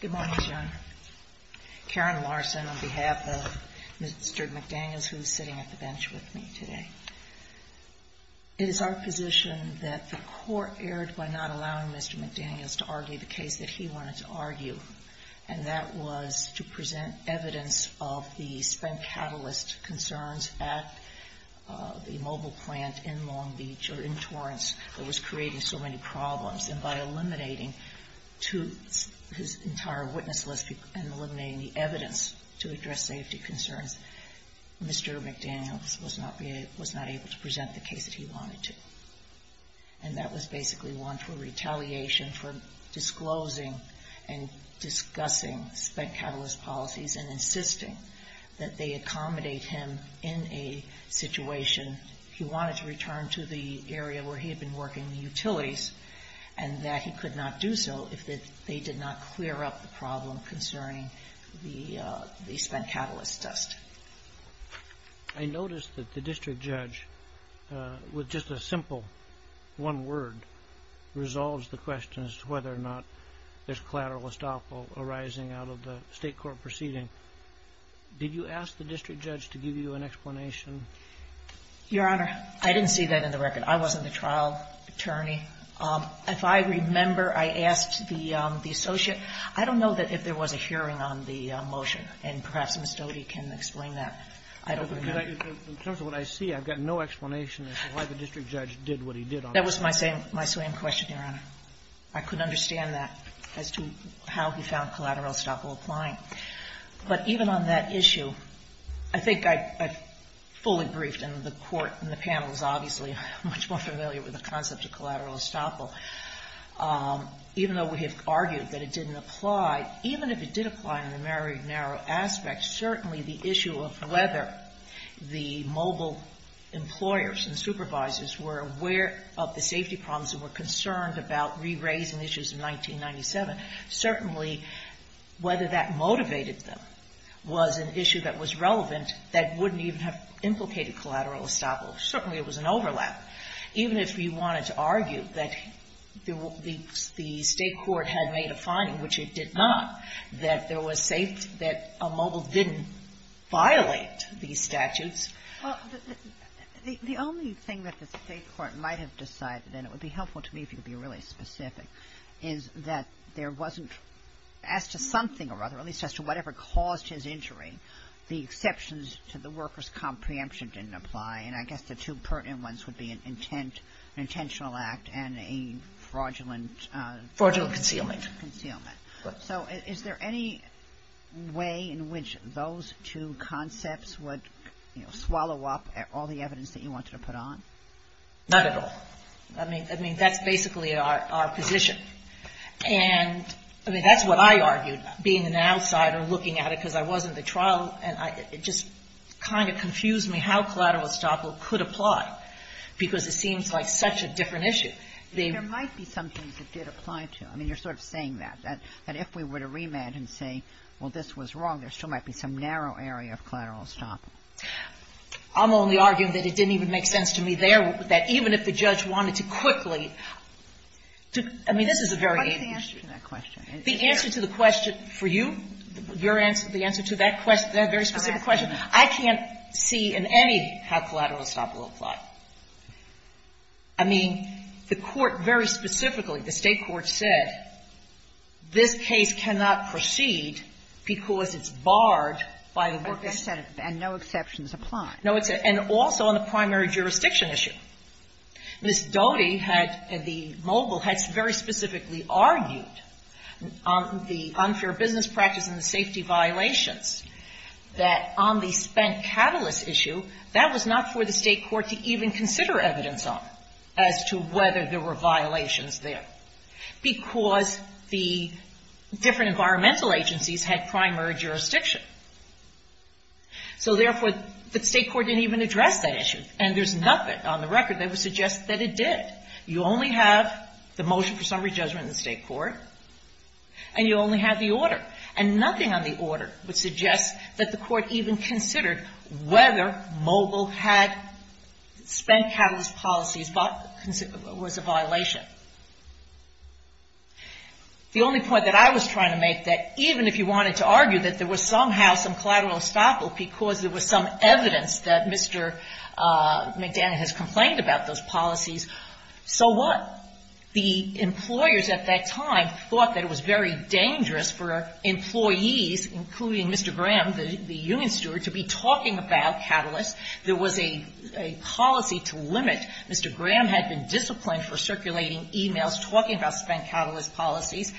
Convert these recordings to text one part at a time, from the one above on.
Good morning, John. Karen Larson on behalf of Mr. McDaniels, who is sitting at the bench with me today. It is our position that the Court erred by not allowing Mr. McDaniels to argue the case that he wanted to argue, and that was to present evidence of the spent catalyst concerns at the mobile plant in Long Beach or in Torrance that was creating so many problems. And by eliminating his entire witness list and eliminating the evidence to address safety concerns, Mr. McDaniels was not able to present the case that he wanted to. And that was basically one for retaliation for disclosing and discussing spent catalyst policies and insisting that they accommodate him in a situation. He wanted to return to the area where he had been working, the utilities, and that he could not do so if they did not clear up the problem concerning the spent catalyst test. JUDGE LEBEN I noticed that the District Judge, with just a simple one word, resolves the question as to whether or not there's collateral estoppel arising out of the State Court proceeding. Did you ask the District Judge to give you an explanation? GINSBURG Your Honor, I didn't see that in the record. I wasn't the trial attorney. If I remember, I asked the Associate. I don't know if there was a hearing on the motion, and perhaps Ms. Doty can explain that. I don't remember. KENNEDY In terms of what I see, I've got no explanation as to why the District Judge did what he did on it. GINSBURG That was my same question, Your Honor. I couldn't understand that as to how he found collateral estoppel applying. But even on that issue, I think I've fully briefed and the Court and the panel is obviously much more familiar with the concept of collateral estoppel. Even though we have argued that it didn't apply, even if it did apply in the very narrow aspect, certainly the issue of whether the mobile employers and supervisors were aware of the safety problems and were concerned about re-raising issues in 1997, certainly whether that motivated them was an issue that was relevant that wouldn't even have implicated collateral estoppel. Certainly it was an overlap. Even if we wanted to argue that the State court had made a finding, which it did not, that there was safety, that a mobile didn't violate these statutes. KAGAN Well, the only thing that the State court might have decided, and it would be helpful to me if you could be really specific, is that there wasn't, as to something or other, at least as to whatever caused his injury, the exceptions to the workers' comprehension didn't apply. And I guess the two pertinent ones would be an intent, an intentional act, and a fraudulent concealment. GINSBURG Fraudulent concealment. So is there any way in which those two concepts would, you know, swallow up all the evidence that you wanted to put on? GINSBURG Not at all. I mean, that's basically our position. And, I mean, that's what I argued, being an outsider, looking at it, because I was in the trial, and it just kind of confused me how collateral estoppel could apply, because it seems like such a different issue. KAGAN There might be some things it did apply to. I mean, you're sort of saying that, that if we were to remand and say, well, this was wrong, there still might be some narrow area of collateral estoppel. GINSBURG I'm only arguing that it didn't even make sense to me there, that even if the judge wanted to quickly to – I mean, this is a very – KAGAN What is the answer to that question? GINSBURG The answer to the question for you, your answer, the answer to that question – that very specific question, I can't see in any how collateral estoppel will apply. I mean, the Court very specifically, the State court said, this case cannot proceed because it's barred by the work that's set up. Kagan And no exceptions apply. GINSBURG No, it's – and also on the primary jurisdiction issue. Ms. Doty had – the mobile had very specifically argued on the unfair business practice and the safety on as to whether there were violations there, because the different environmental agencies had primary jurisdiction. So therefore, the State court didn't even address that issue, and there's nothing on the record that would suggest that it did. You only have the motion for summary judgment in the State court, and you only have the order. And nothing on the order would suggest that the Court even considered whether mobile had – spent catalyst policies was a violation. The only point that I was trying to make, that even if you wanted to argue that there was somehow some collateral estoppel because there was some evidence that Mr. McDaniel has complained about those policies, so what? The employers at that time thought that it was very dangerous for employees, including Mr. Graham, the union steward, to be talking about catalysts. There was a policy to limit. Mr. Graham had been disciplined for circulating e-mails talking about spent catalyst policies.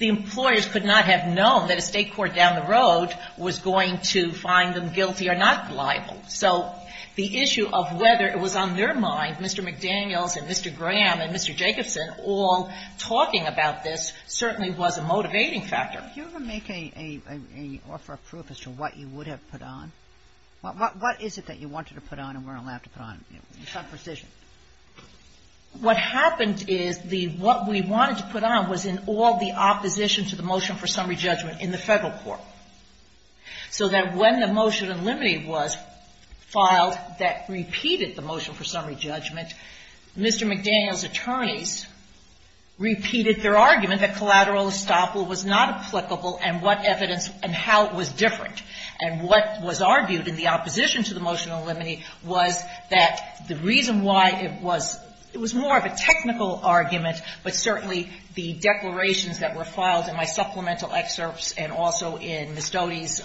The employers could not have known that a State court down the road was going to find them guilty or not liable. So the issue of whether it was on their mind, Mr. McDaniel's and Mr. Graham and Mr. Jacobson all talking about this certainly was a motivating factor. Sotomayor, did you ever make a – offer a proof as to what you would have put on? What is it that you wanted to put on and weren't allowed to put on, in some precision? What happened is the – what we wanted to put on was in all the opposition to the motion for summary judgment in the Federal court. So that when the motion unlimited was filed that repeated the motion for summary judgment, Mr. McDaniel's attorneys repeated their argument that collateral estoppel was not applicable and what evidence – and how it was different. And what was argued in the opposition to the motion unlimited was that the reason why it was – it was more of a technical argument, but certainly the declarations that were filed in my supplemental excerpts and also in Ms. Doty's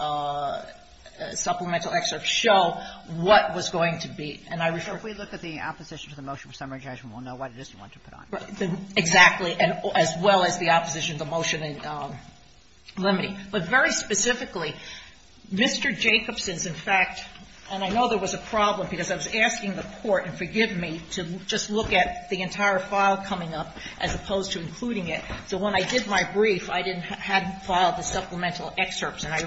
supplemental excerpts show what was going to be. And I refer – So if we look at the opposition to the motion for summary judgment, we'll know what it is you want to put on. Exactly. And as well as the opposition to the motion limiting. But very specifically, Mr. Jacobson's, in fact – and I know there was a problem because I was asking the court, and forgive me, to just look at the entire file coming up as opposed to including it. So when I did my brief, I didn't – hadn't filed the supplemental excerpts, and I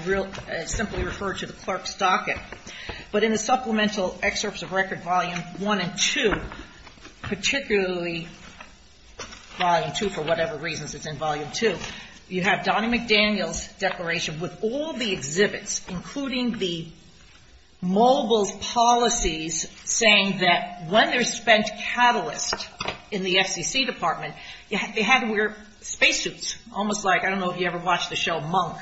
simply referred to the clerk's docket. But in the supplemental excerpts of record volume one and two, particularly volume two, for whatever reasons it's in volume two, you have Donnie McDaniel's declaration with all the exhibits, including the mobile policies saying that when there's spent catalyst in the FCC department, they had to wear spacesuits, almost like – I don't know if you ever watched the show Monk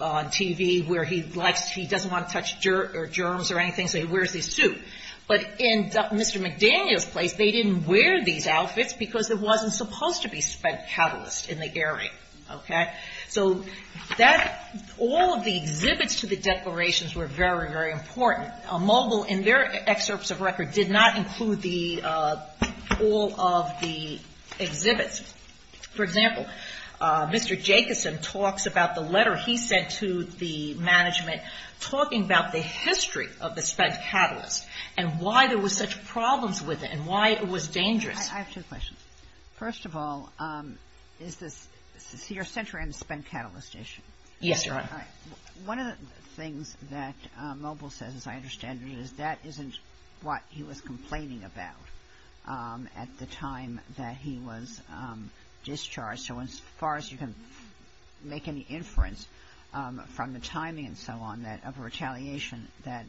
on TV, where he likes – he doesn't want to touch dirt or germs or anything, so he wears a suit. But in Mr. McDaniel's place, they didn't wear these outfits because there wasn't supposed to be spent catalyst in the area. Okay? So that – all of the exhibits to the declarations were very, very important. Mobile, in their excerpts of record, did not include the – all of the exhibits. For example, Mr. Jacobson talks about the letter he sent to the management talking about the history of the spent catalyst and why there was such problems with it and why it was dangerous. I have two questions. First of all, is this – so you're centering on the spent catalyst issue. Yes, Your Honor. One of the things that Mobile says, as I understand it, is that isn't what he was complaining about at the time that he was discharged. So as far as you can make any inference from the timing and so on of a retaliation, that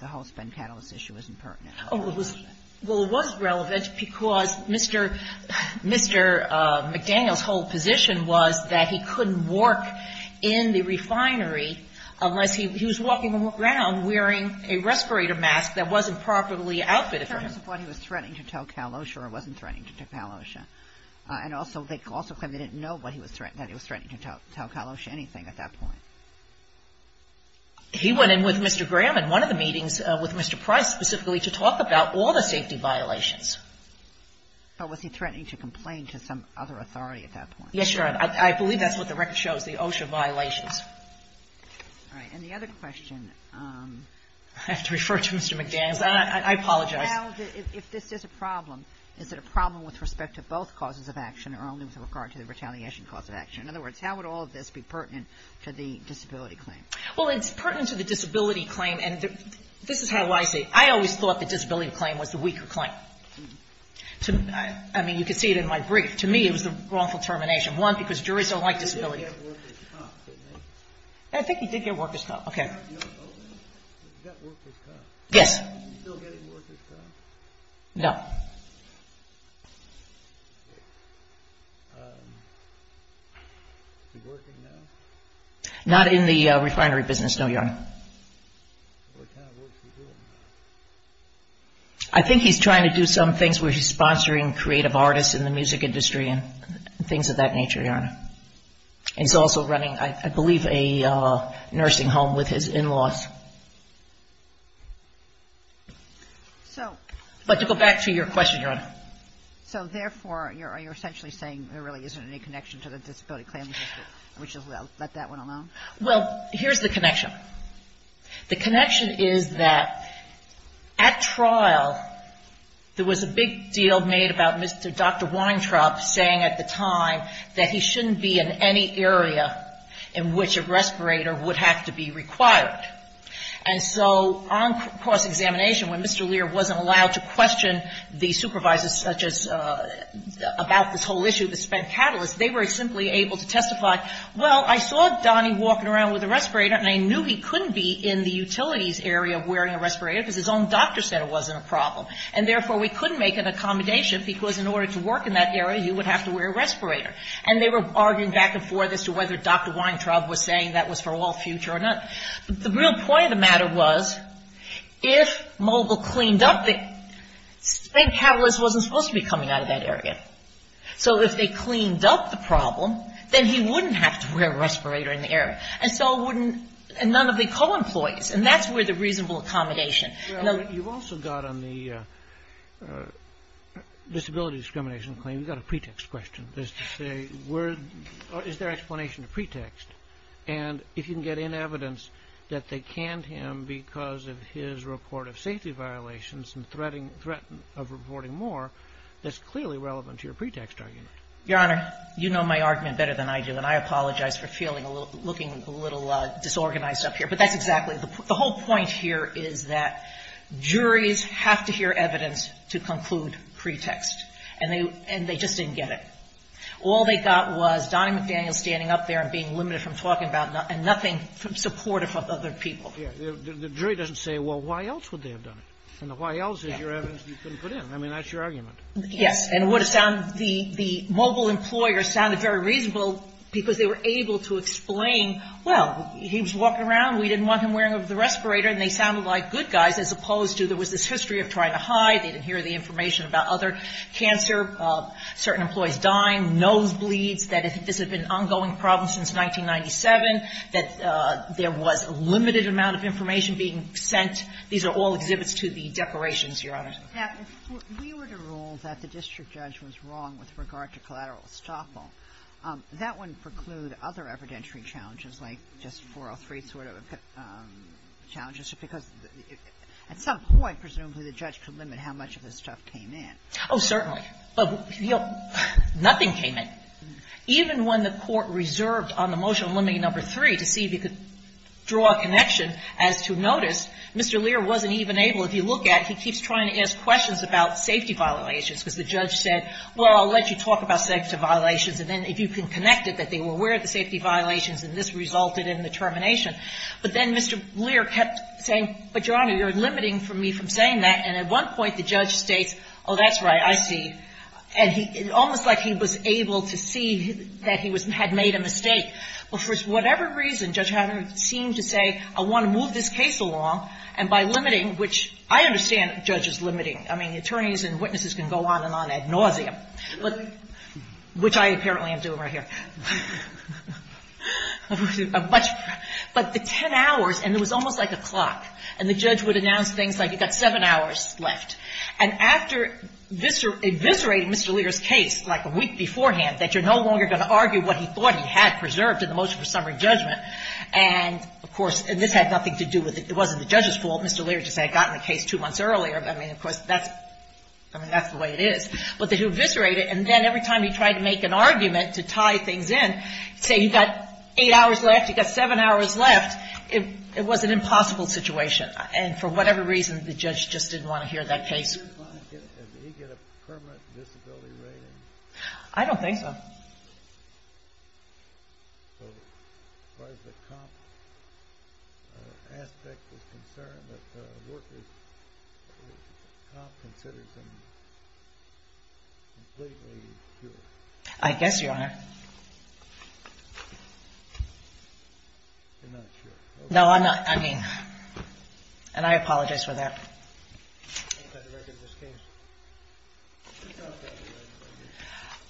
the whole spent catalyst issue isn't pertinent? Well, it was relevant because Mr. McDaniel's whole position was that he couldn't work in the refinery unless he was walking around wearing a respirator mask that wasn't properly outfitted. In terms of what he was threatening to tell Kalosha or wasn't threatening to tell Kalosha. And also they claim they didn't know that he was threatening to tell Kalosha anything at that point. He went in with Mr. Graham in one of the meetings with Mr. Price specifically to talk about all the safety violations. But was he threatening to complain to some other authority at that point? Yes, Your Honor. I believe that's what the record shows, the OSHA violations. All right. And the other question. I have to refer to Mr. McDaniel's. I apologize. Now, if this is a problem, is it a problem with respect to both causes of action or only with regard to the retaliation cause of action? In other words, how would all of this be pertinent to the disability claim? Well, it's pertinent to the disability claim. And this is how I see it. I always thought the disability claim was the weaker claim. I mean, you can see it in my brief. To me, it was the wrongful termination. One, because juries don't like disability claims. He did get workers' comp, didn't he? I think he did get workers' comp. Okay. He got workers' comp. Yes. Is he still getting workers' comp? No. Is he working now? Not in the refinery business, no, Your Honor. What kind of work is he doing? I think he's trying to do some things where he's sponsoring creative artists in the music industry and things of that nature, Your Honor. And he's also running, I believe, a nursing home with his in-laws. But to go back to your question, Your Honor. So therefore, you're essentially saying there really isn't any connection to the disability claim, which is, well, let that one alone? Well, here's the connection. The connection is that at trial, there was a big deal made about Mr. Weintraub saying at the time that he shouldn't be in any area in which a respirator would have to be required. And so on cross-examination, when Mr. Lear wasn't allowed to question the supervisors such as about this whole issue of the spent catalyst, they were simply able to testify, well, I saw Donnie walking around with a respirator and I knew he couldn't be in the utilities area wearing a respirator because his own doctor said it wasn't a problem. And therefore, we couldn't make an accommodation because in order to work in that area, he would have to wear a respirator. And they were arguing back and forth as to whether Dr. Weintraub was saying that was for all future or none. But the real point of the matter was, if Mogul cleaned up the spent catalyst wasn't supposed to be coming out of that area. So if they cleaned up the problem, then he wouldn't have to wear a respirator in the area. And so wouldn't none of the co-employees. And that's where the reasonable accommodation. You've also got on the disability discrimination claim, you've got a pretext question as to say, is there explanation to pretext? And if you can get in evidence that they canned him because of his report of safety violations and threatened of reporting more, that's clearly relevant to your pretext argument. Your Honor, you know my argument better than I do. And I apologize for feeling a little, looking a little disorganized up here. But that's exactly the point. The whole point here is that juries have to hear evidence to conclude pretext. And they just didn't get it. All they got was Donna McDaniel standing up there and being limited from talking about, and nothing supportive of other people. The jury doesn't say, well, why else would they have done it? And the why else is your evidence you couldn't put in. I mean, that's your argument. And it would have sounded, the Mogul employer sounded very reasonable because they were able to explain, well, he was walking around, we didn't want him wearing the respirator, and they sounded like good guys as opposed to there was this history of trying to hide, they didn't hear the information about other cancer, certain employees dying, nosebleeds, that this had been an ongoing problem since 1997, that there was a limited amount of information being sent. These are all exhibits to the declarations, Your Honor. If we were to rule that the district judge was wrong with regard to collateral estoppel, that wouldn't preclude other evidentiary challenges like just 403 sort of challenges? Because at some point, presumably, the judge could limit how much of this stuff came in. Oh, certainly. But, you know, nothing came in. Even when the Court reserved on the motion limiting number three to see if you could draw a connection as to notice, Mr. Lear wasn't even able, if you look at it, he keeps trying to ask questions about safety violations because the judge said, well, I'll let you talk about safety violations, and then if you can connect it that they were aware of the safety violations and this resulted in the termination. But then Mr. Lear kept saying, but, Your Honor, you're limiting me from saying that, and at one point the judge states, oh, that's right, I see. And he almost like he was able to see that he had made a mistake. But for whatever reason, Judge Hatton seemed to say, I want to move this case along, and by limiting, which I understand judges limiting. I mean, attorneys and witnesses can go on and on ad nauseam, which I apparently am doing right here. But the 10 hours, and it was almost like a clock, and the judge would announce things like you've got seven hours left. And after eviscerating Mr. Lear's case like a week beforehand that you're no longer going to argue what he thought he had preserved in the motion for summary judgment. And, of course, this had nothing to do with it. It wasn't the judge's fault. Mr. Lear just had gotten the case two months earlier. I mean, of course, that's the way it is. But he eviscerated, and then every time he tried to make an argument to tie things in, say you've got eight hours left, you've got seven hours left, it was an impossible situation. And for whatever reason, the judge just didn't want to hear that case. I don't think so. I guess you are. No, I'm not. I mean, and I apologize for that.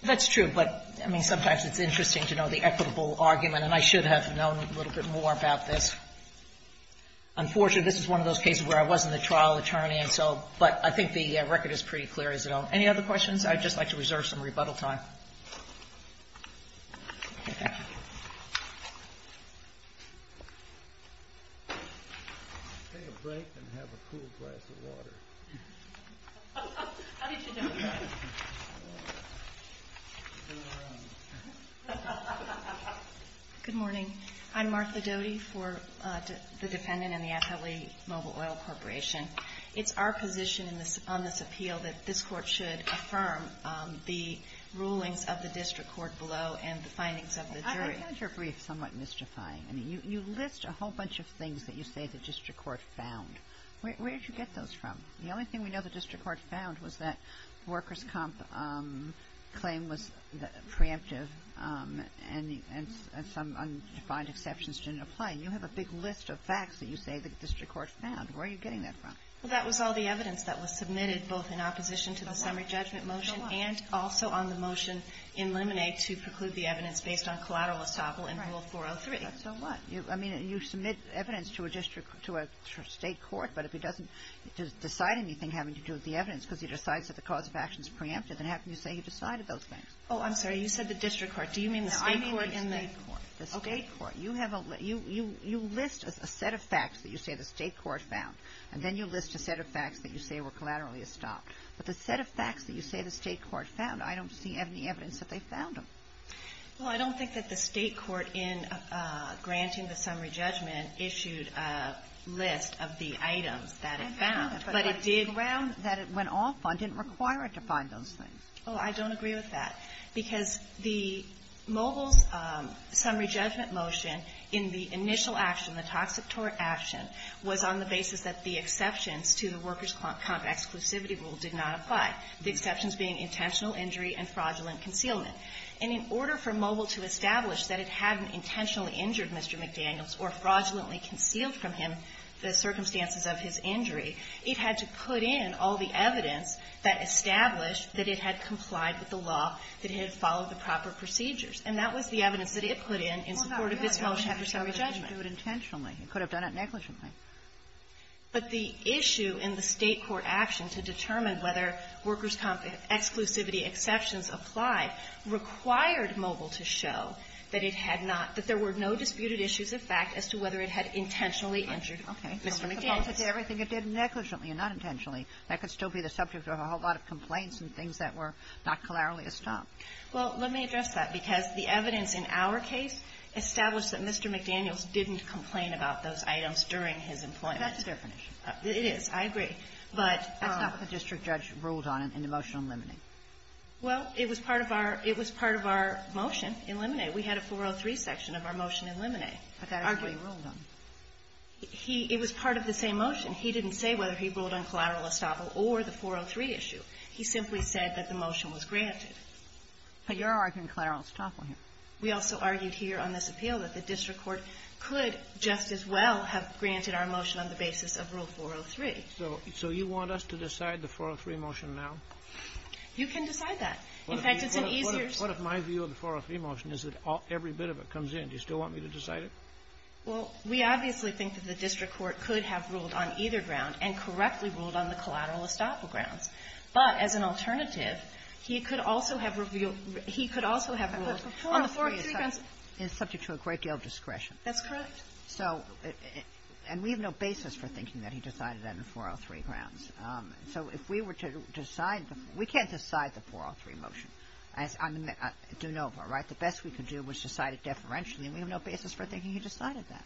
That's true, but, I mean, sometimes it's interesting to know the equitable argument, and I should have known a little bit more about this. Unfortunately, this is one of those cases where I wasn't the trial attorney, and so, but I think the record is pretty clear as it is. Any other questions? I'd just like to reserve some rebuttal time. Take a break and have a cool glass of water. How did you know that? Good morning. I'm Martha Doty for the defendant in the FLE Mobile Oil Corporation. It's our position on this appeal that this court should affirm the rulings of the district court below and the findings of the jury. I found your brief somewhat mystifying. I mean, you list a whole bunch of things that you say the district court found. Where did you get those from? The only thing we know the district court found was that workers' comp claim was preemptive and some undefined exceptions didn't apply. You have a big list of facts that you say the district court found. Where are you getting that from? Well, that was all the evidence that was submitted both in opposition to the motion in Lemonade to preclude the evidence based on collateral estoppel in Rule 403. So what? I mean, you submit evidence to a district court, to a state court, but if it doesn't decide anything having to do with the evidence because he decides that the cause of action is preemptive, then how can you say he decided those things? Oh, I'm sorry. You said the district court. Do you mean the state court? No, I mean the state court. Okay. The state court. You have a list. You list a set of facts that you say the state court found, and then you list a set of facts that you say were collaterally estopped. But the set of facts that you say the state court found, I don't see any evidence that they found them. Well, I don't think that the state court, in granting the summary judgment, issued a list of the items that it found. But it did round that it went off on. It didn't require it to find those things. Oh, I don't agree with that. Because the mobile's summary judgment motion in the initial action, the toxic tort action, was on the basis that the exceptions to the workers' comp exclusivity rule did not apply, the exceptions being intentional injury and fraudulent concealment. And in order for mobile to establish that it hadn't intentionally injured Mr. McDaniels or fraudulently concealed from him the circumstances of his injury, it had to put in all the evidence that established that it had complied with the law, that it had followed the proper procedures. And that was the evidence that it put in in support of this motion after summary judgment. It could have done it negligently. But the issue in the state court action to determine whether workers' comp exclusivity exceptions applied required mobile to show that it had not – that there were no disputed issues of fact as to whether it had intentionally injured Mr. McDaniels. Okay. So if it complied with everything it did negligently and not intentionally, that could still be the subject of a whole lot of complaints and things that were not clearly established. Well, let me address that. Because the evidence in our case established that Mr. McDaniels didn't complain about those items during his employment. That's a different issue. It is. I agree. But – That's not what the district judge ruled on in the motion on limine. Well, it was part of our – it was part of our motion in limine. We had a 403 section of our motion in limine. But that's what he ruled on. He – it was part of the same motion. He didn't say whether he ruled on collateral estoppel or the 403 issue. He simply said that the motion was granted. But you're arguing collateral estoppel here. We also argued here on this appeal that the district court could just as well have granted our motion on the basis of Rule 403. So you want us to decide the 403 motion now? You can decide that. In fact, it's an easier – What if my view of the 403 motion is that every bit of it comes in? Do you still want me to decide it? Well, we obviously think that the district court could have ruled on either ground and correctly ruled on the collateral estoppel grounds. But as an alternative, he could also have revealed – he could also have ruled on the 403 grounds. But the 403 is subject to a great deal of discretion. That's correct. So – and we have no basis for thinking that he decided that on the 403 grounds. So if we were to decide – we can't decide the 403 motion. As I do know of her, right? The best we could do was decide it deferentially, and we have no basis for thinking he decided that.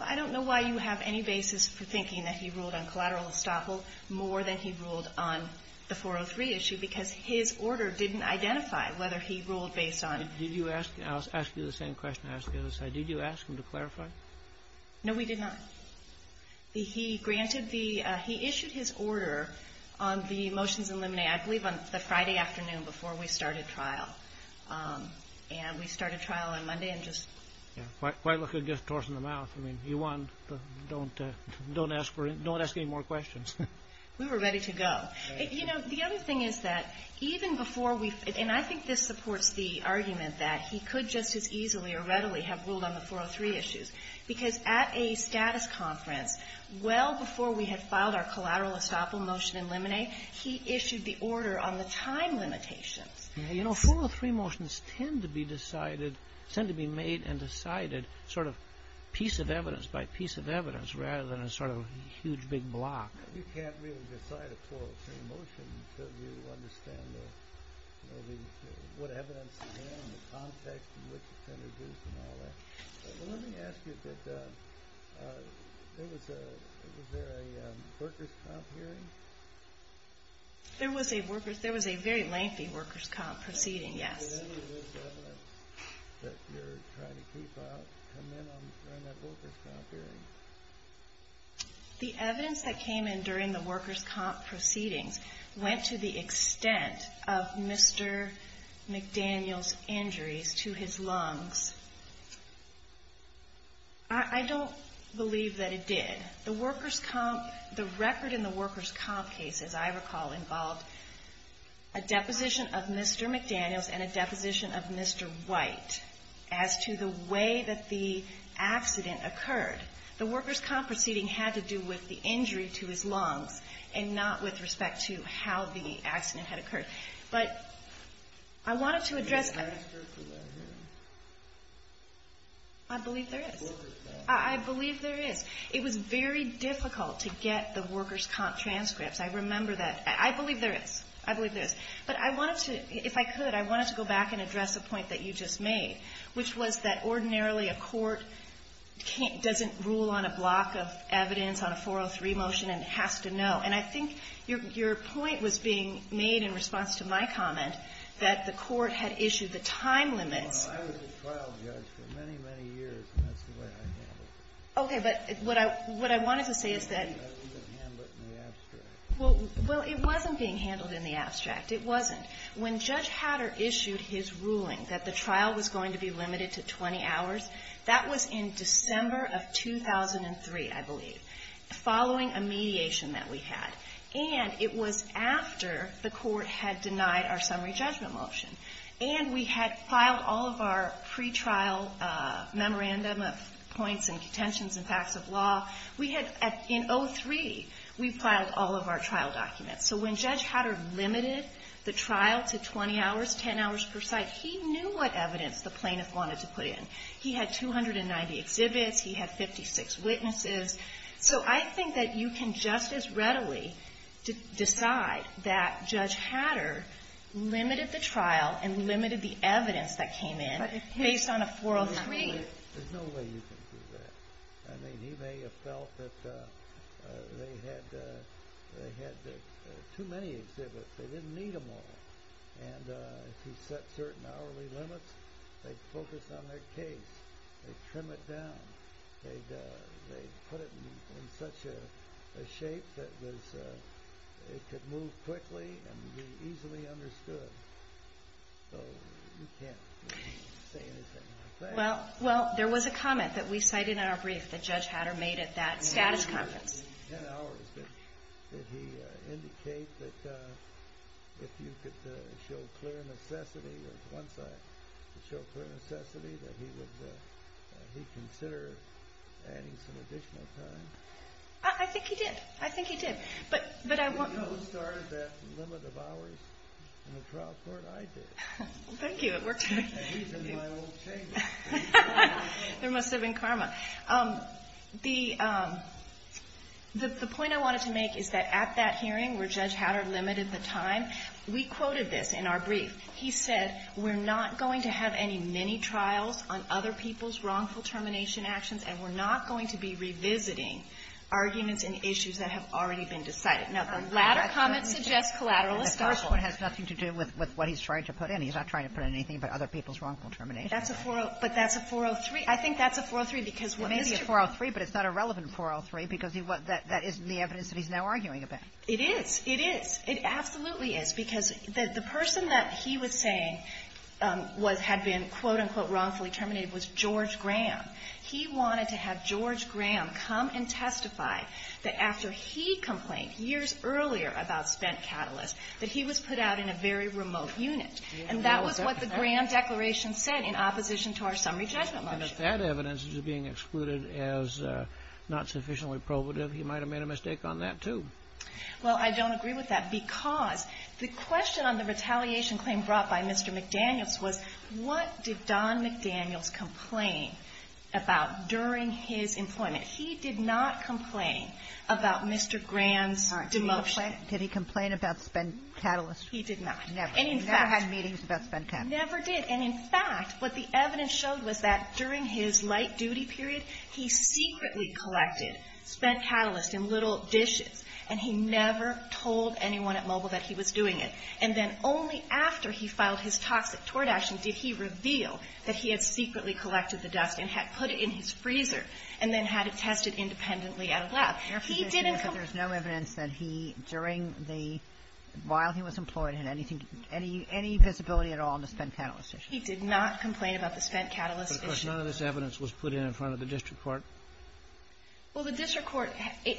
Well, I don't know why you have any basis for thinking that he ruled on collateral estoppel more than he ruled on the 403 issue, because his order didn't identify whether he ruled based on – Did you ask – I'll ask you the same question. I'll ask you the other side. Did you ask him to clarify? No, we did not. He granted the – he issued his order on the motions in limine. I believe on the Friday afternoon before we started trial. And we started trial on Monday and just – Yeah. Why look at it and just toss it in the mouth? I mean, you won. Don't ask for – don't ask any more questions. We were ready to go. You know, the other thing is that even before we – and I think this supports the argument that he could just as easily or readily have ruled on the 403 issues because at a status conference well before we had filed our collateral estoppel motion in limine, he issued the order on the time limitations. You know, 403 motions tend to be decided – tend to be made and decided sort of piece of evidence by piece of evidence rather than a sort of huge big block. You can't really decide a 403 motion until you understand the – what evidence you have and the context in which it's introduced and all that. Let me ask you that there was a – was there a workers' comp hearing? There was a workers' – there was a very lengthy workers' comp proceeding, yes. Was any of this evidence that you're trying to keep out come in on that workers' comp hearing? The evidence that came in during the workers' comp proceedings went to the extent of Mr. McDaniel's injuries to his lungs. I don't believe that it did. The workers' comp – the record in the workers' comp case, as I recall, involved a deposition of Mr. McDaniel's and a deposition of Mr. White as to the way that the accident occurred. The workers' comp proceeding had to do with the injury to his lungs and not with respect to how the accident had occurred. But I wanted to address – Is there a workers' comp hearing? I believe there is. Workers' comp. I believe there is. It was very difficult to get the workers' comp transcripts. I remember that. I believe there is. I believe there is. But I wanted to – if I could, I wanted to go back and address a point that you just made, which was that ordinarily a court can't – doesn't rule on a block of evidence on a 403 motion and has to know. And I think your point was being made in response to my comment that the court had issued the time limits. I was a trial judge for many, many years, and that's the way I handled it. Okay. But what I wanted to say is that – Well, it wasn't being handled in the abstract. It wasn't. When Judge Hatter issued his ruling that the trial was going to be limited to 20 hours, that was in December of 2003, I believe, following a mediation that we had. And it was after the court had denied our summary judgment motion. And we had filed all of our pretrial memorandum of points and contentions and facts of law. We had – in 2003, we filed all of our trial documents. So when Judge Hatter limited the trial to 20 hours, 10 hours per site, he knew what evidence the plaintiff wanted to put in. He had 290 exhibits. He had 56 witnesses. So I think that you can just as readily decide that Judge Hatter limited the trial and limited the evidence that came in based on a 403. There's no way you can do that. I mean, he may have felt that they had too many exhibits. They didn't need them all. And if he set certain hourly limits, they'd focus on their case. They'd trim it down. They'd put it in such a shape that it could move quickly and be easily understood. So you can't say anything like that. Well, there was a comment that we cited in our brief that Judge Hatter made at that status conference. In the 10 hours, did he indicate that if you could show clear necessity or to show clear necessity that he would consider adding some additional time? I think he did. I think he did. But I want – He also started that limit of hours in the trial court I did. Thank you. I hope it worked. There must have been karma. The point I wanted to make is that at that hearing where Judge Hatter limited the time, we quoted this in our brief. He said, we're not going to have any mini-trials on other people's wrongful termination actions, and we're not going to be revisiting arguments and issues that have already been decided. Now, the latter comment suggests collateral establishment. Well, it has nothing to do with what he's trying to put in. He's not trying to put in anything but other people's wrongful termination. But that's a 403. I think that's a 403 because what Mr. ---- It may be a 403, but it's not a relevant 403 because that isn't the evidence that he's now arguing about. It is. It is. It absolutely is, because the person that he was saying was – had been, quote, unquote, wrongfully terminated was George Graham. He wanted to have George Graham come and testify that after he complained years earlier about spent catalyst, that he was put out in a very remote unit. And that was what the Graham declaration said in opposition to our summary judgment motion. And if that evidence is being excluded as not sufficiently probative, he might have made a mistake on that, too. Well, I don't agree with that because the question on the retaliation claim brought by Mr. McDaniels was, what did Don McDaniels complain about during his employment? He did not complain about Mr. Graham's demotion. Did he complain about spent catalyst? He did not. Never. He never had meetings about spent catalyst. Never did. And, in fact, what the evidence showed was that during his light-duty period, he secretly collected spent catalyst in little dishes, and he never told anyone at Mobile that he was doing it. And then only after he filed his toxic tort action did he reveal that he had secretly at a lab. He didn't complain. Your position is that there's no evidence that he, during the while he was employed, had anything, any visibility at all in the spent catalyst issue? He did not complain about the spent catalyst issue. Of course, none of this evidence was put in in front of the district court. Well, the district court,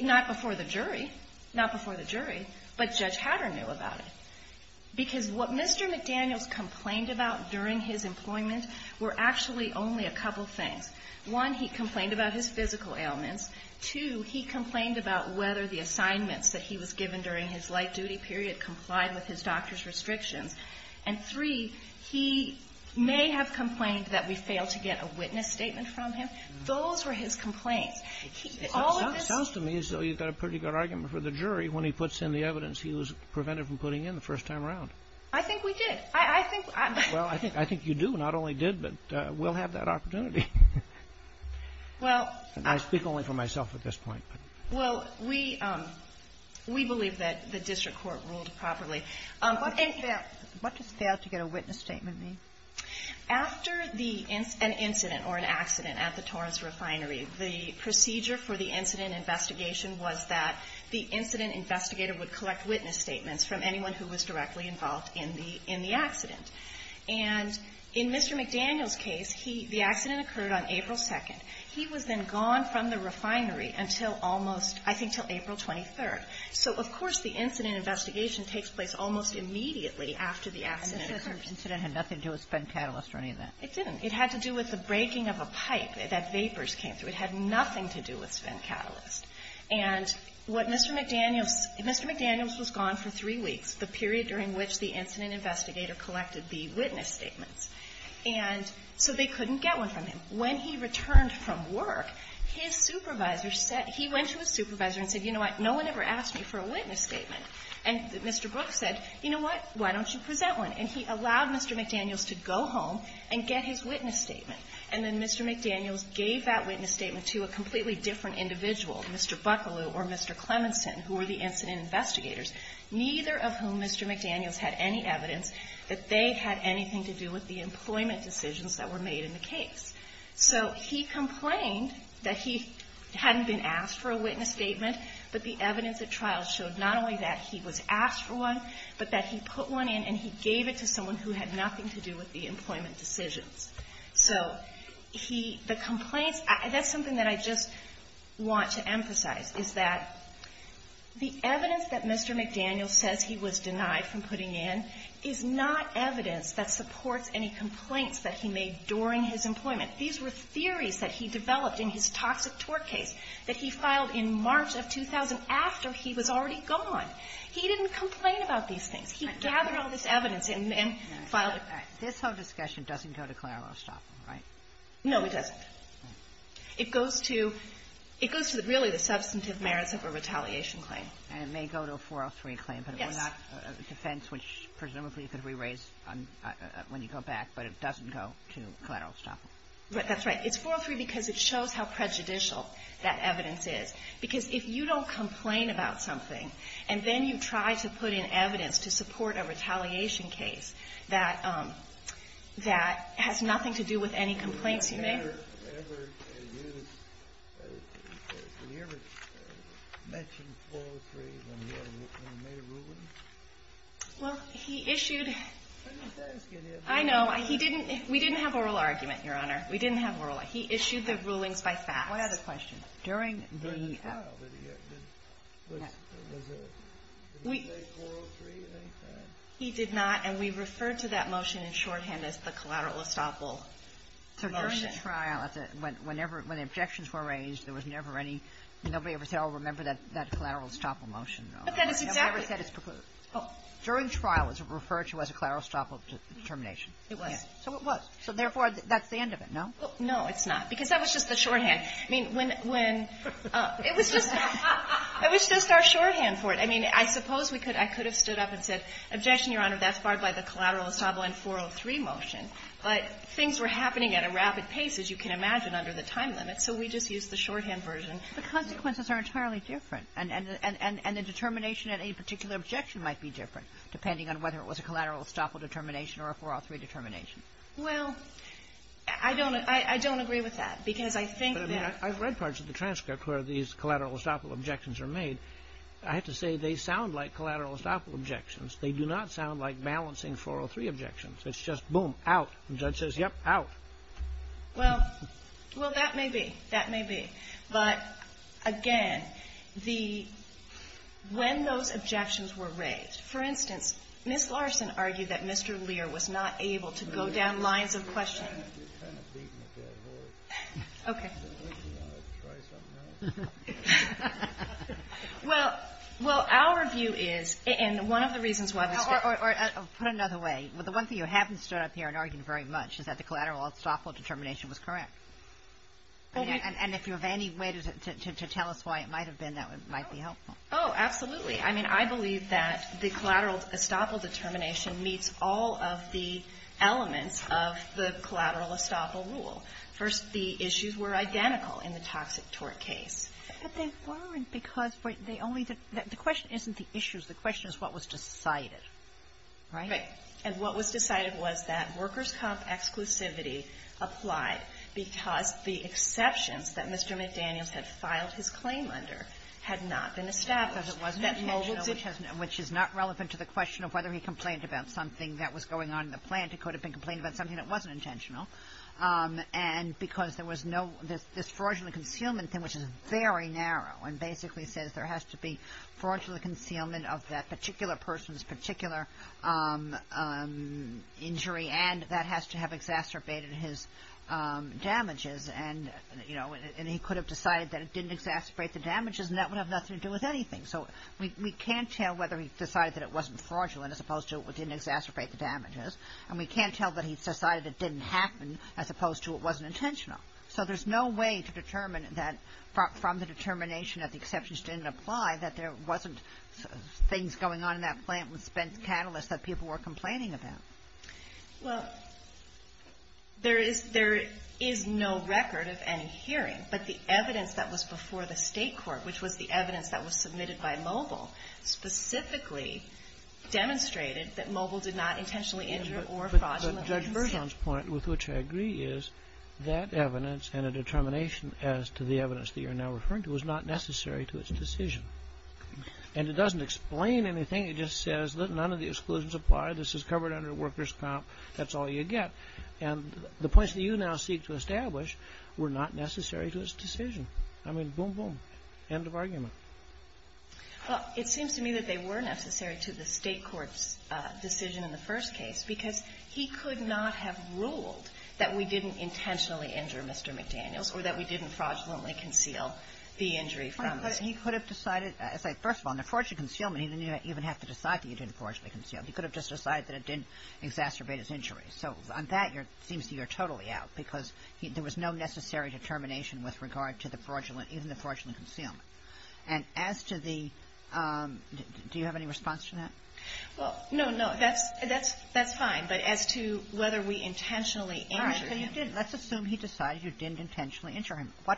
not before the jury, not before the jury, but Judge Hattern knew about it. Because what Mr. McDaniels complained about during his employment were actually only a couple things. One, he complained about his physical ailments. Two, he complained about whether the assignments that he was given during his light-duty period complied with his doctor's restrictions. And, three, he may have complained that we failed to get a witness statement from him. Those were his complaints. All of this ---- It sounds to me as though you've got a pretty good argument for the jury when he puts in the evidence he was prevented from putting in the first time around. I think we did. I think ---- Well, I think you do. Not only did, but will have that opportunity. Well ---- I speak only for myself at this point. Well, we believe that the district court ruled properly. What does fail to get a witness statement mean? After the ---- an incident or an accident at the Torrance Refinery, the procedure for the incident investigation was that the incident investigator would collect witness statements from anyone who was directly involved in the accident. And in Mr. McDaniels' case, he ---- the accident occurred on April 2nd. He was then gone from the refinery until almost, I think, until April 23rd. So, of course, the incident investigation takes place almost immediately after the accident occurred. And the accident had nothing to do with Sven Catalyst or any of that? It didn't. It had to do with the breaking of a pipe that vapors came through. It had nothing to do with Sven Catalyst. And what Mr. McDaniels ---- Mr. McDaniels was gone for three weeks, the period during which the incident investigator collected the witness statements. And so they couldn't get one from him. When he returned from work, his supervisor said ---- he went to his supervisor and said, you know what, no one ever asked me for a witness statement. And Mr. Brooks said, you know what, why don't you present one? And he allowed Mr. McDaniels to go home and get his witness statement. And then Mr. McDaniels gave that witness statement to a completely different individual, Mr. Bucklew or Mr. Clemonson, who were the incident investigators, neither of whom Mr. McDaniels had any evidence that they had anything to do with the employment decisions that were made in the case. So he complained that he hadn't been asked for a witness statement, but the evidence at trial showed not only that he was asked for one, but that he put one in and he gave it to someone who had nothing to do with the employment decisions. So he ---- the complaints ---- that's something that I just want to emphasize, is that the evidence that Mr. McDaniels says he was denied from putting in is not evidence that supports any complaints that he made during his employment. These were theories that he developed in his toxic tort case that he filed in March of 2000 after he was already gone. He didn't complain about these things. He gathered all this evidence and filed it. Kagan. This whole discussion doesn't go to collateral estoppel, right? No, it doesn't. It goes to the substantive merits of a retaliation claim. And it may go to a 403 claim. Yes. But it was not a defense which presumably could be raised when you go back, but it But that's right. It's 403 because it shows how prejudicial that evidence is. Because if you don't complain about something and then you try to put in evidence to support a retaliation case that has nothing to do with any complaints you made ---- Did he ever mention 403 when he made a ruling? Well, he issued ---- I didn't ask him. No, he didn't. We didn't have oral argument, Your Honor. We didn't have oral. He issued the rulings by fax. I have a question. During the ---- During the trial, did he get ---- No. Did he say 403 at any time? He did not. And we referred to that motion in shorthand as the collateral estoppel motion. So during the trial, when the objections were raised, there was never any ---- nobody ever said, oh, remember that collateral estoppel motion? No. But that is exactly ---- Nobody ever said it's ---- During trial, it was referred to as a collateral estoppel determination. It was. So it was. So therefore, that's the end of it, no? No, it's not, because that was just the shorthand. I mean, when ---- It was just ---- It was just our shorthand for it. I mean, I suppose we could ---- I could have stood up and said, objection, Your Honor, that's barred by the collateral estoppel and 403 motion. But things were happening at a rapid pace, as you can imagine, under the time limit, so we just used the shorthand version. The consequences are entirely different, and the determination at a particular objection might be different, depending on whether it was a collateral estoppel determination or a 403 determination. Well, I don't ---- I don't agree with that, because I think that ---- But, I mean, I've read parts of the transcript where these collateral estoppel objections are made. I have to say they sound like collateral estoppel objections. They do not sound like balancing 403 objections. It's just, boom, out. The judge says, yep, out. Well, well, that may be. That may be. But, again, the ---- when those objections were raised, for instance, Ms. Larson argued that Mr. Lear was not able to go down lines of questioning. Okay. Well, our view is, and one of the reasons why ---- Or put it another way, the one thing you haven't stood up here and argued very much is that the collateral estoppel determination was correct. And if you have any way to tell us why it might have been, that might be helpful. Oh, absolutely. I mean, I believe that the collateral estoppel determination meets all of the elements of the collateral estoppel rule. First, the issues were identical in the toxic tort case. But they weren't because they only ---- the question isn't the issues. The question is what was decided, right? Right. And what was decided was that workers' comp exclusivity applied because the exceptions that Mr. McDaniels had filed his claim under had not been established. Because it wasn't intentional, which is not relevant to the question of whether he complained about something that was going on in the plant. It could have been complained about something that wasn't intentional. And because there was no ---- this fraudulent concealment thing, which is very narrow and basically says there has to be fraudulent concealment of that particular person's particular injury and that has to have exacerbated his damages. And, you know, he could have decided that it didn't exacerbate the damages and that would have nothing to do with anything. So we can't tell whether he decided that it wasn't fraudulent as opposed to it didn't exacerbate the damages. And we can't tell that he decided it didn't happen as opposed to it wasn't intentional. So there's no way to determine that from the determination that the exceptions didn't apply that there wasn't things going on in that plant with spent catalysts that people were complaining about. Well, there is no record of any hearing. But the evidence that was before the state court, which was the evidence that was submitted by Mobile, specifically demonstrated that Mobile did not intentionally injure or fraudulently conceal. But Judge Bergeon's point, with which I agree, is that evidence and a determination as to the evidence that you're now referring to was not necessary to its decision. And it doesn't explain anything. It just says none of the exclusions apply. This is covered under workers' comp. That's all you get. And the points that you now seek to establish were not necessary to its decision. I mean, boom, boom. End of argument. Well, it seems to me that they were necessary to the state court's decision in the first case because he could not have ruled that we didn't intentionally injure Mr. McDaniels or that we didn't fraudulently conceal the injury from us. But he could have decided, as I said, first of all, in the fraudulent concealment, he didn't even have to decide that he didn't fraudulently conceal. He could have just decided that it didn't exacerbate his injuries. So on that, it seems to me you're totally out because there was no necessary determination with regard to the fraudulent, even the fraudulent concealment. And as to the do you have any response to that? Well, no, no. That's fine. But as to whether we intentionally injured him. Let's assume he decided you didn't intentionally injure him. Well,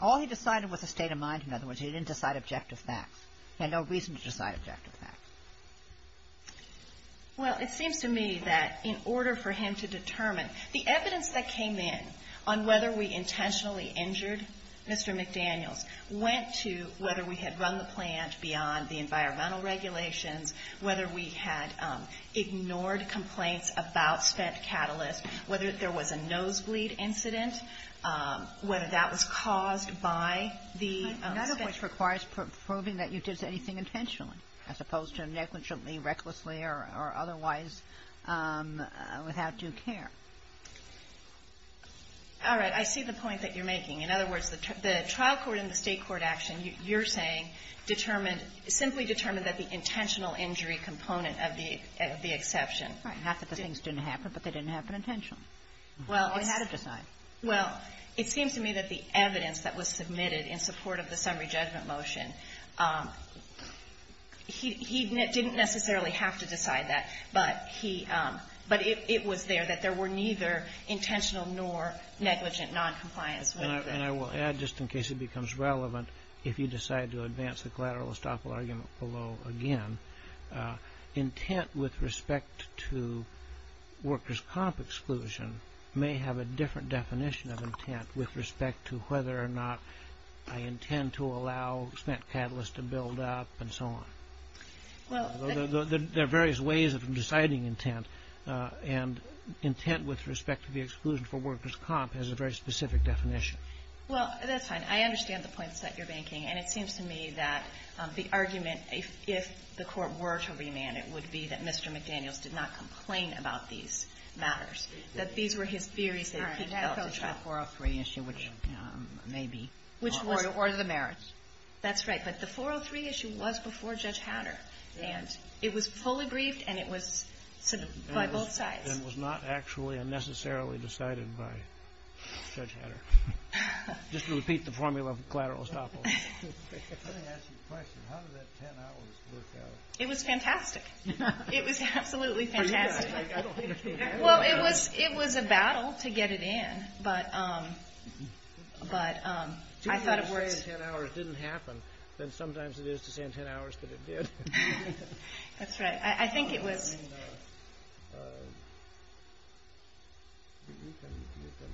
all he decided was a state of mind. In other words, he didn't decide objective facts. He had no reason to decide objective facts. Well, it seems to me that in order for him to determine the evidence that came in, on whether we intentionally injured Mr. McDaniels, went to whether we had run the plant beyond the environmental regulations, whether we had ignored complaints about spent catalysts, whether there was a nosebleed incident, whether that was caused by the spent catalysts. None of which requires proving that you did anything intentionally, as opposed to negligently, recklessly or otherwise without due care. All right. I see the point that you're making. In other words, the trial court and the state court action, you're saying, determined – simply determined that the intentional injury component of the exception. Right. Half of the things didn't happen, but they didn't happen intentionally. Well, it had to decide. Well, it seems to me that the evidence that was submitted in support of the summary judgment motion, he didn't necessarily have to decide that, but he – but it was there that there were neither intentional nor negligent noncompliance. And I will add, just in case it becomes relevant, if you decide to advance the collateral estoppel argument below again, intent with respect to workers' comp exclusion may have a different definition of intent with respect to whether or not I intend to allow spent catalysts to build up and so on. Well, the – There are various ways of deciding intent, and intent with respect to the exclusion for workers' comp has a very specific definition. Well, that's fine. I understand the points that you're making, and it seems to me that the argument, if the Court were to remand, it would be that Mr. McDaniels did not complain about these matters, that these were his theories that he held. Sorry. That goes to the 403 issue, which may be – Or the merits. That's right. But the 403 issue was before Judge Hatter, and it was fully briefed, and it was by both sides. And was not actually unnecessarily decided by Judge Hatter. Just to repeat the formula for collateral estoppel. Let me ask you a question. How did that 10 hours work out? It was fantastic. It was absolutely fantastic. Well, it was a battle to get it in, but I thought it worked. If 10 hours didn't happen, then sometimes it is to say in 10 hours that it did. That's right. I think it was – You can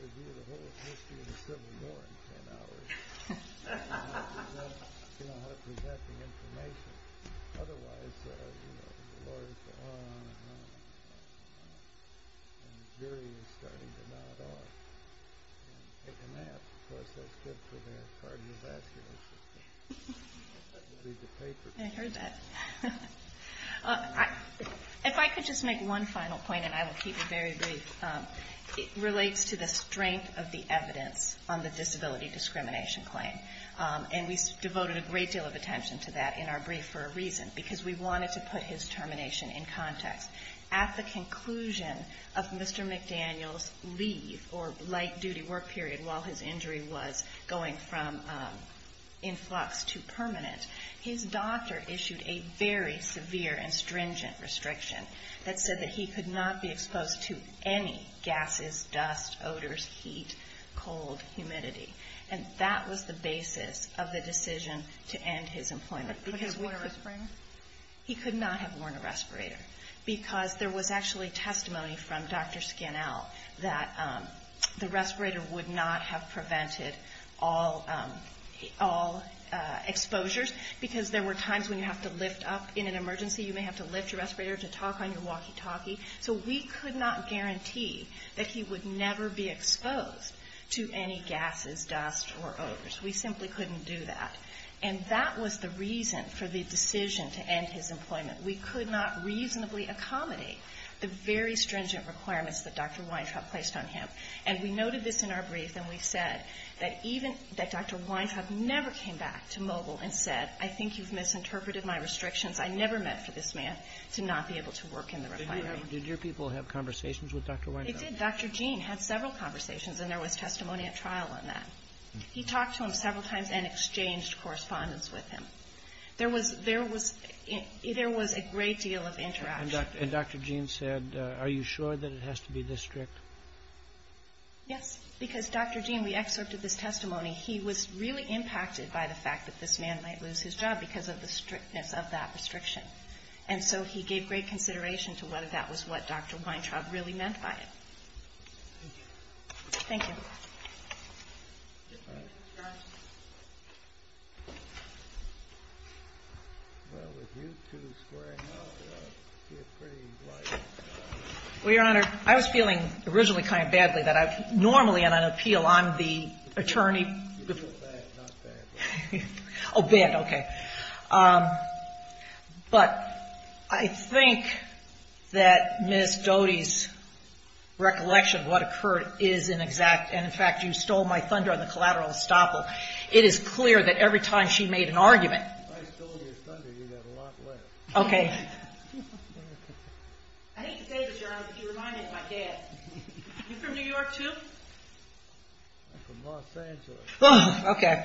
review the whole history of the Civil War in 10 hours. You don't have to present the information. Otherwise, the lawyers go on and on, and the jury is starting to nod off. I heard that. If I could just make one final point, and I will keep it very brief. It relates to the strength of the evidence on the disability discrimination claim. And we devoted a great deal of attention to that in our brief for a reason, because we wanted to put his termination in context. At the conclusion of Mr. McDaniel's leave or light-duty work period while his injury was going from influx to permanent, his doctor issued a very severe and stringent restriction that said that he could not be exposed to any gases, dust, odors, heat, cold, humidity. And that was the basis of the decision to end his employment. Would he have worn a respirator? He could not have worn a respirator, because there was actually testimony from Dr. Scannell that the respirator would not have prevented all exposures, because there were times when you have to lift up in an emergency. You may have to lift your respirator to talk on your walkie-talkie. So we could not guarantee that he would never be exposed to any gases, dust, or odors. We simply couldn't do that. And that was the reason for the decision to end his employment. We could not reasonably accommodate the very stringent requirements that Dr. Weintraub placed on him. And we noted this in our brief, and we said that even that Dr. Weintraub never came back to Mogul and said, I think you've misinterpreted my restrictions. I never meant for this man to not be able to work in the refinery. Did your people have conversations with Dr. Weintraub? It did. Dr. Gene had several conversations, and there was testimony at trial on that. He talked to him several times and exchanged correspondence with him. There was a great deal of interaction. And Dr. Gene said, are you sure that it has to be this strict? Yes. Because, Dr. Gene, we excerpted this testimony. He was really impacted by the fact that this man might lose his job because of the strictness of that restriction. And so he gave great consideration to whether that was what Dr. Weintraub really meant by it. Thank you. Thank you. Well, with you two squaring off, you're pretty light. Well, Your Honor, I was feeling originally kind of badly that I normally, on an appeal, I'm the attorney. You feel bad, not bad. Oh, bad. Okay. But I think that Ms. Doty's recollection of what occurred is an exact, and, in fact, you stole my thunder on the collateral estoppel. It is clear that every time she made an argument. I stole your thunder. You got a lot left. Okay. I hate to say this, Your Honor, but you remind me of my dad. You from New York, too? I'm from Los Angeles. Okay.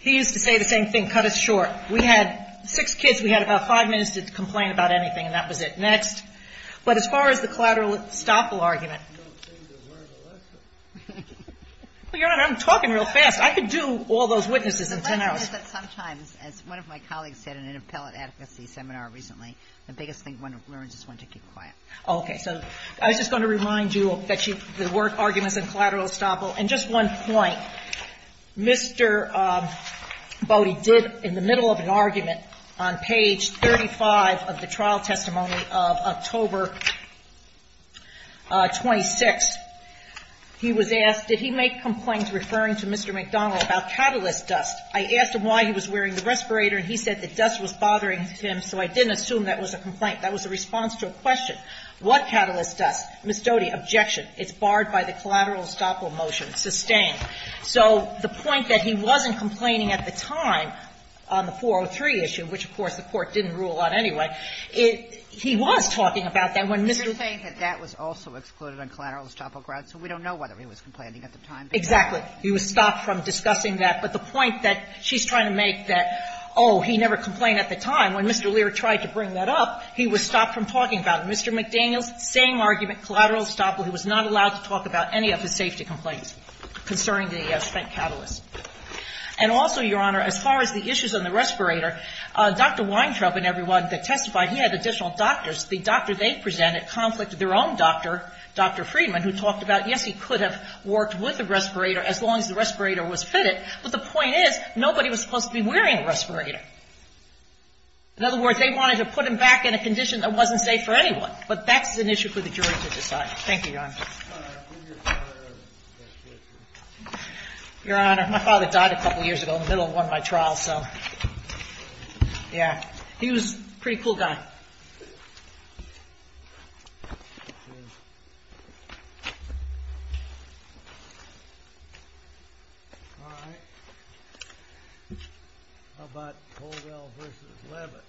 He used to say the same thing. He didn't cut us short. We had six kids. We had about five minutes to complain about anything, and that was it. Next. But as far as the collateral estoppel argument. You don't seem to learn a lesson. Well, Your Honor, I'm talking real fast. I could do all those witnesses in ten hours. The question is that sometimes, as one of my colleagues said in an appellate advocacy seminar recently, the biggest thing one learns is one to keep quiet. Okay. So I was just going to remind you that she the word arguments and collateral estoppel. And just one point. Mr. Bode did, in the middle of an argument, on page 35 of the trial testimony of October 26th, he was asked, did he make complaints referring to Mr. McDonnell about catalyst dust? I asked him why he was wearing the respirator, and he said the dust was bothering him, so I didn't assume that was a complaint. That was a response to a question. What catalyst dust? Ms. Doty, objection. It's barred by the collateral estoppel motion. It's sustained. So the point that he wasn't complaining at the time on the 403 issue, which, of course, the Court didn't rule on anyway, it he was talking about that when Mr. Lear You're saying that that was also excluded on collateral estoppel grounds, so we don't know whether he was complaining at the time. Exactly. He was stopped from discussing that. But the point that she's trying to make that, oh, he never complained at the time. When Mr. Lear tried to bring that up, he was stopped from talking about it. Mr. McDaniels, same argument, collateral estoppel, he was not allowed to talk about any of his safety complaints concerning the spent catalyst. And also, Your Honor, as far as the issues on the respirator, Dr. Weintraub and everyone that testified, he had additional doctors. The doctor they presented conflicted their own doctor, Dr. Friedman, who talked about, yes, he could have worked with the respirator as long as the respirator was fitted, but the point is nobody was supposed to be wearing a respirator. In other words, they wanted to put him back in a condition that wasn't safe for anyone. But that's an issue for the jury to decide. Thank you, Your Honor. All right. When did your father die? Your Honor, my father died a couple years ago in the middle of one of my trials. So, yeah, he was a pretty cool guy. All right. How about Koldell v. Leavitt? All right.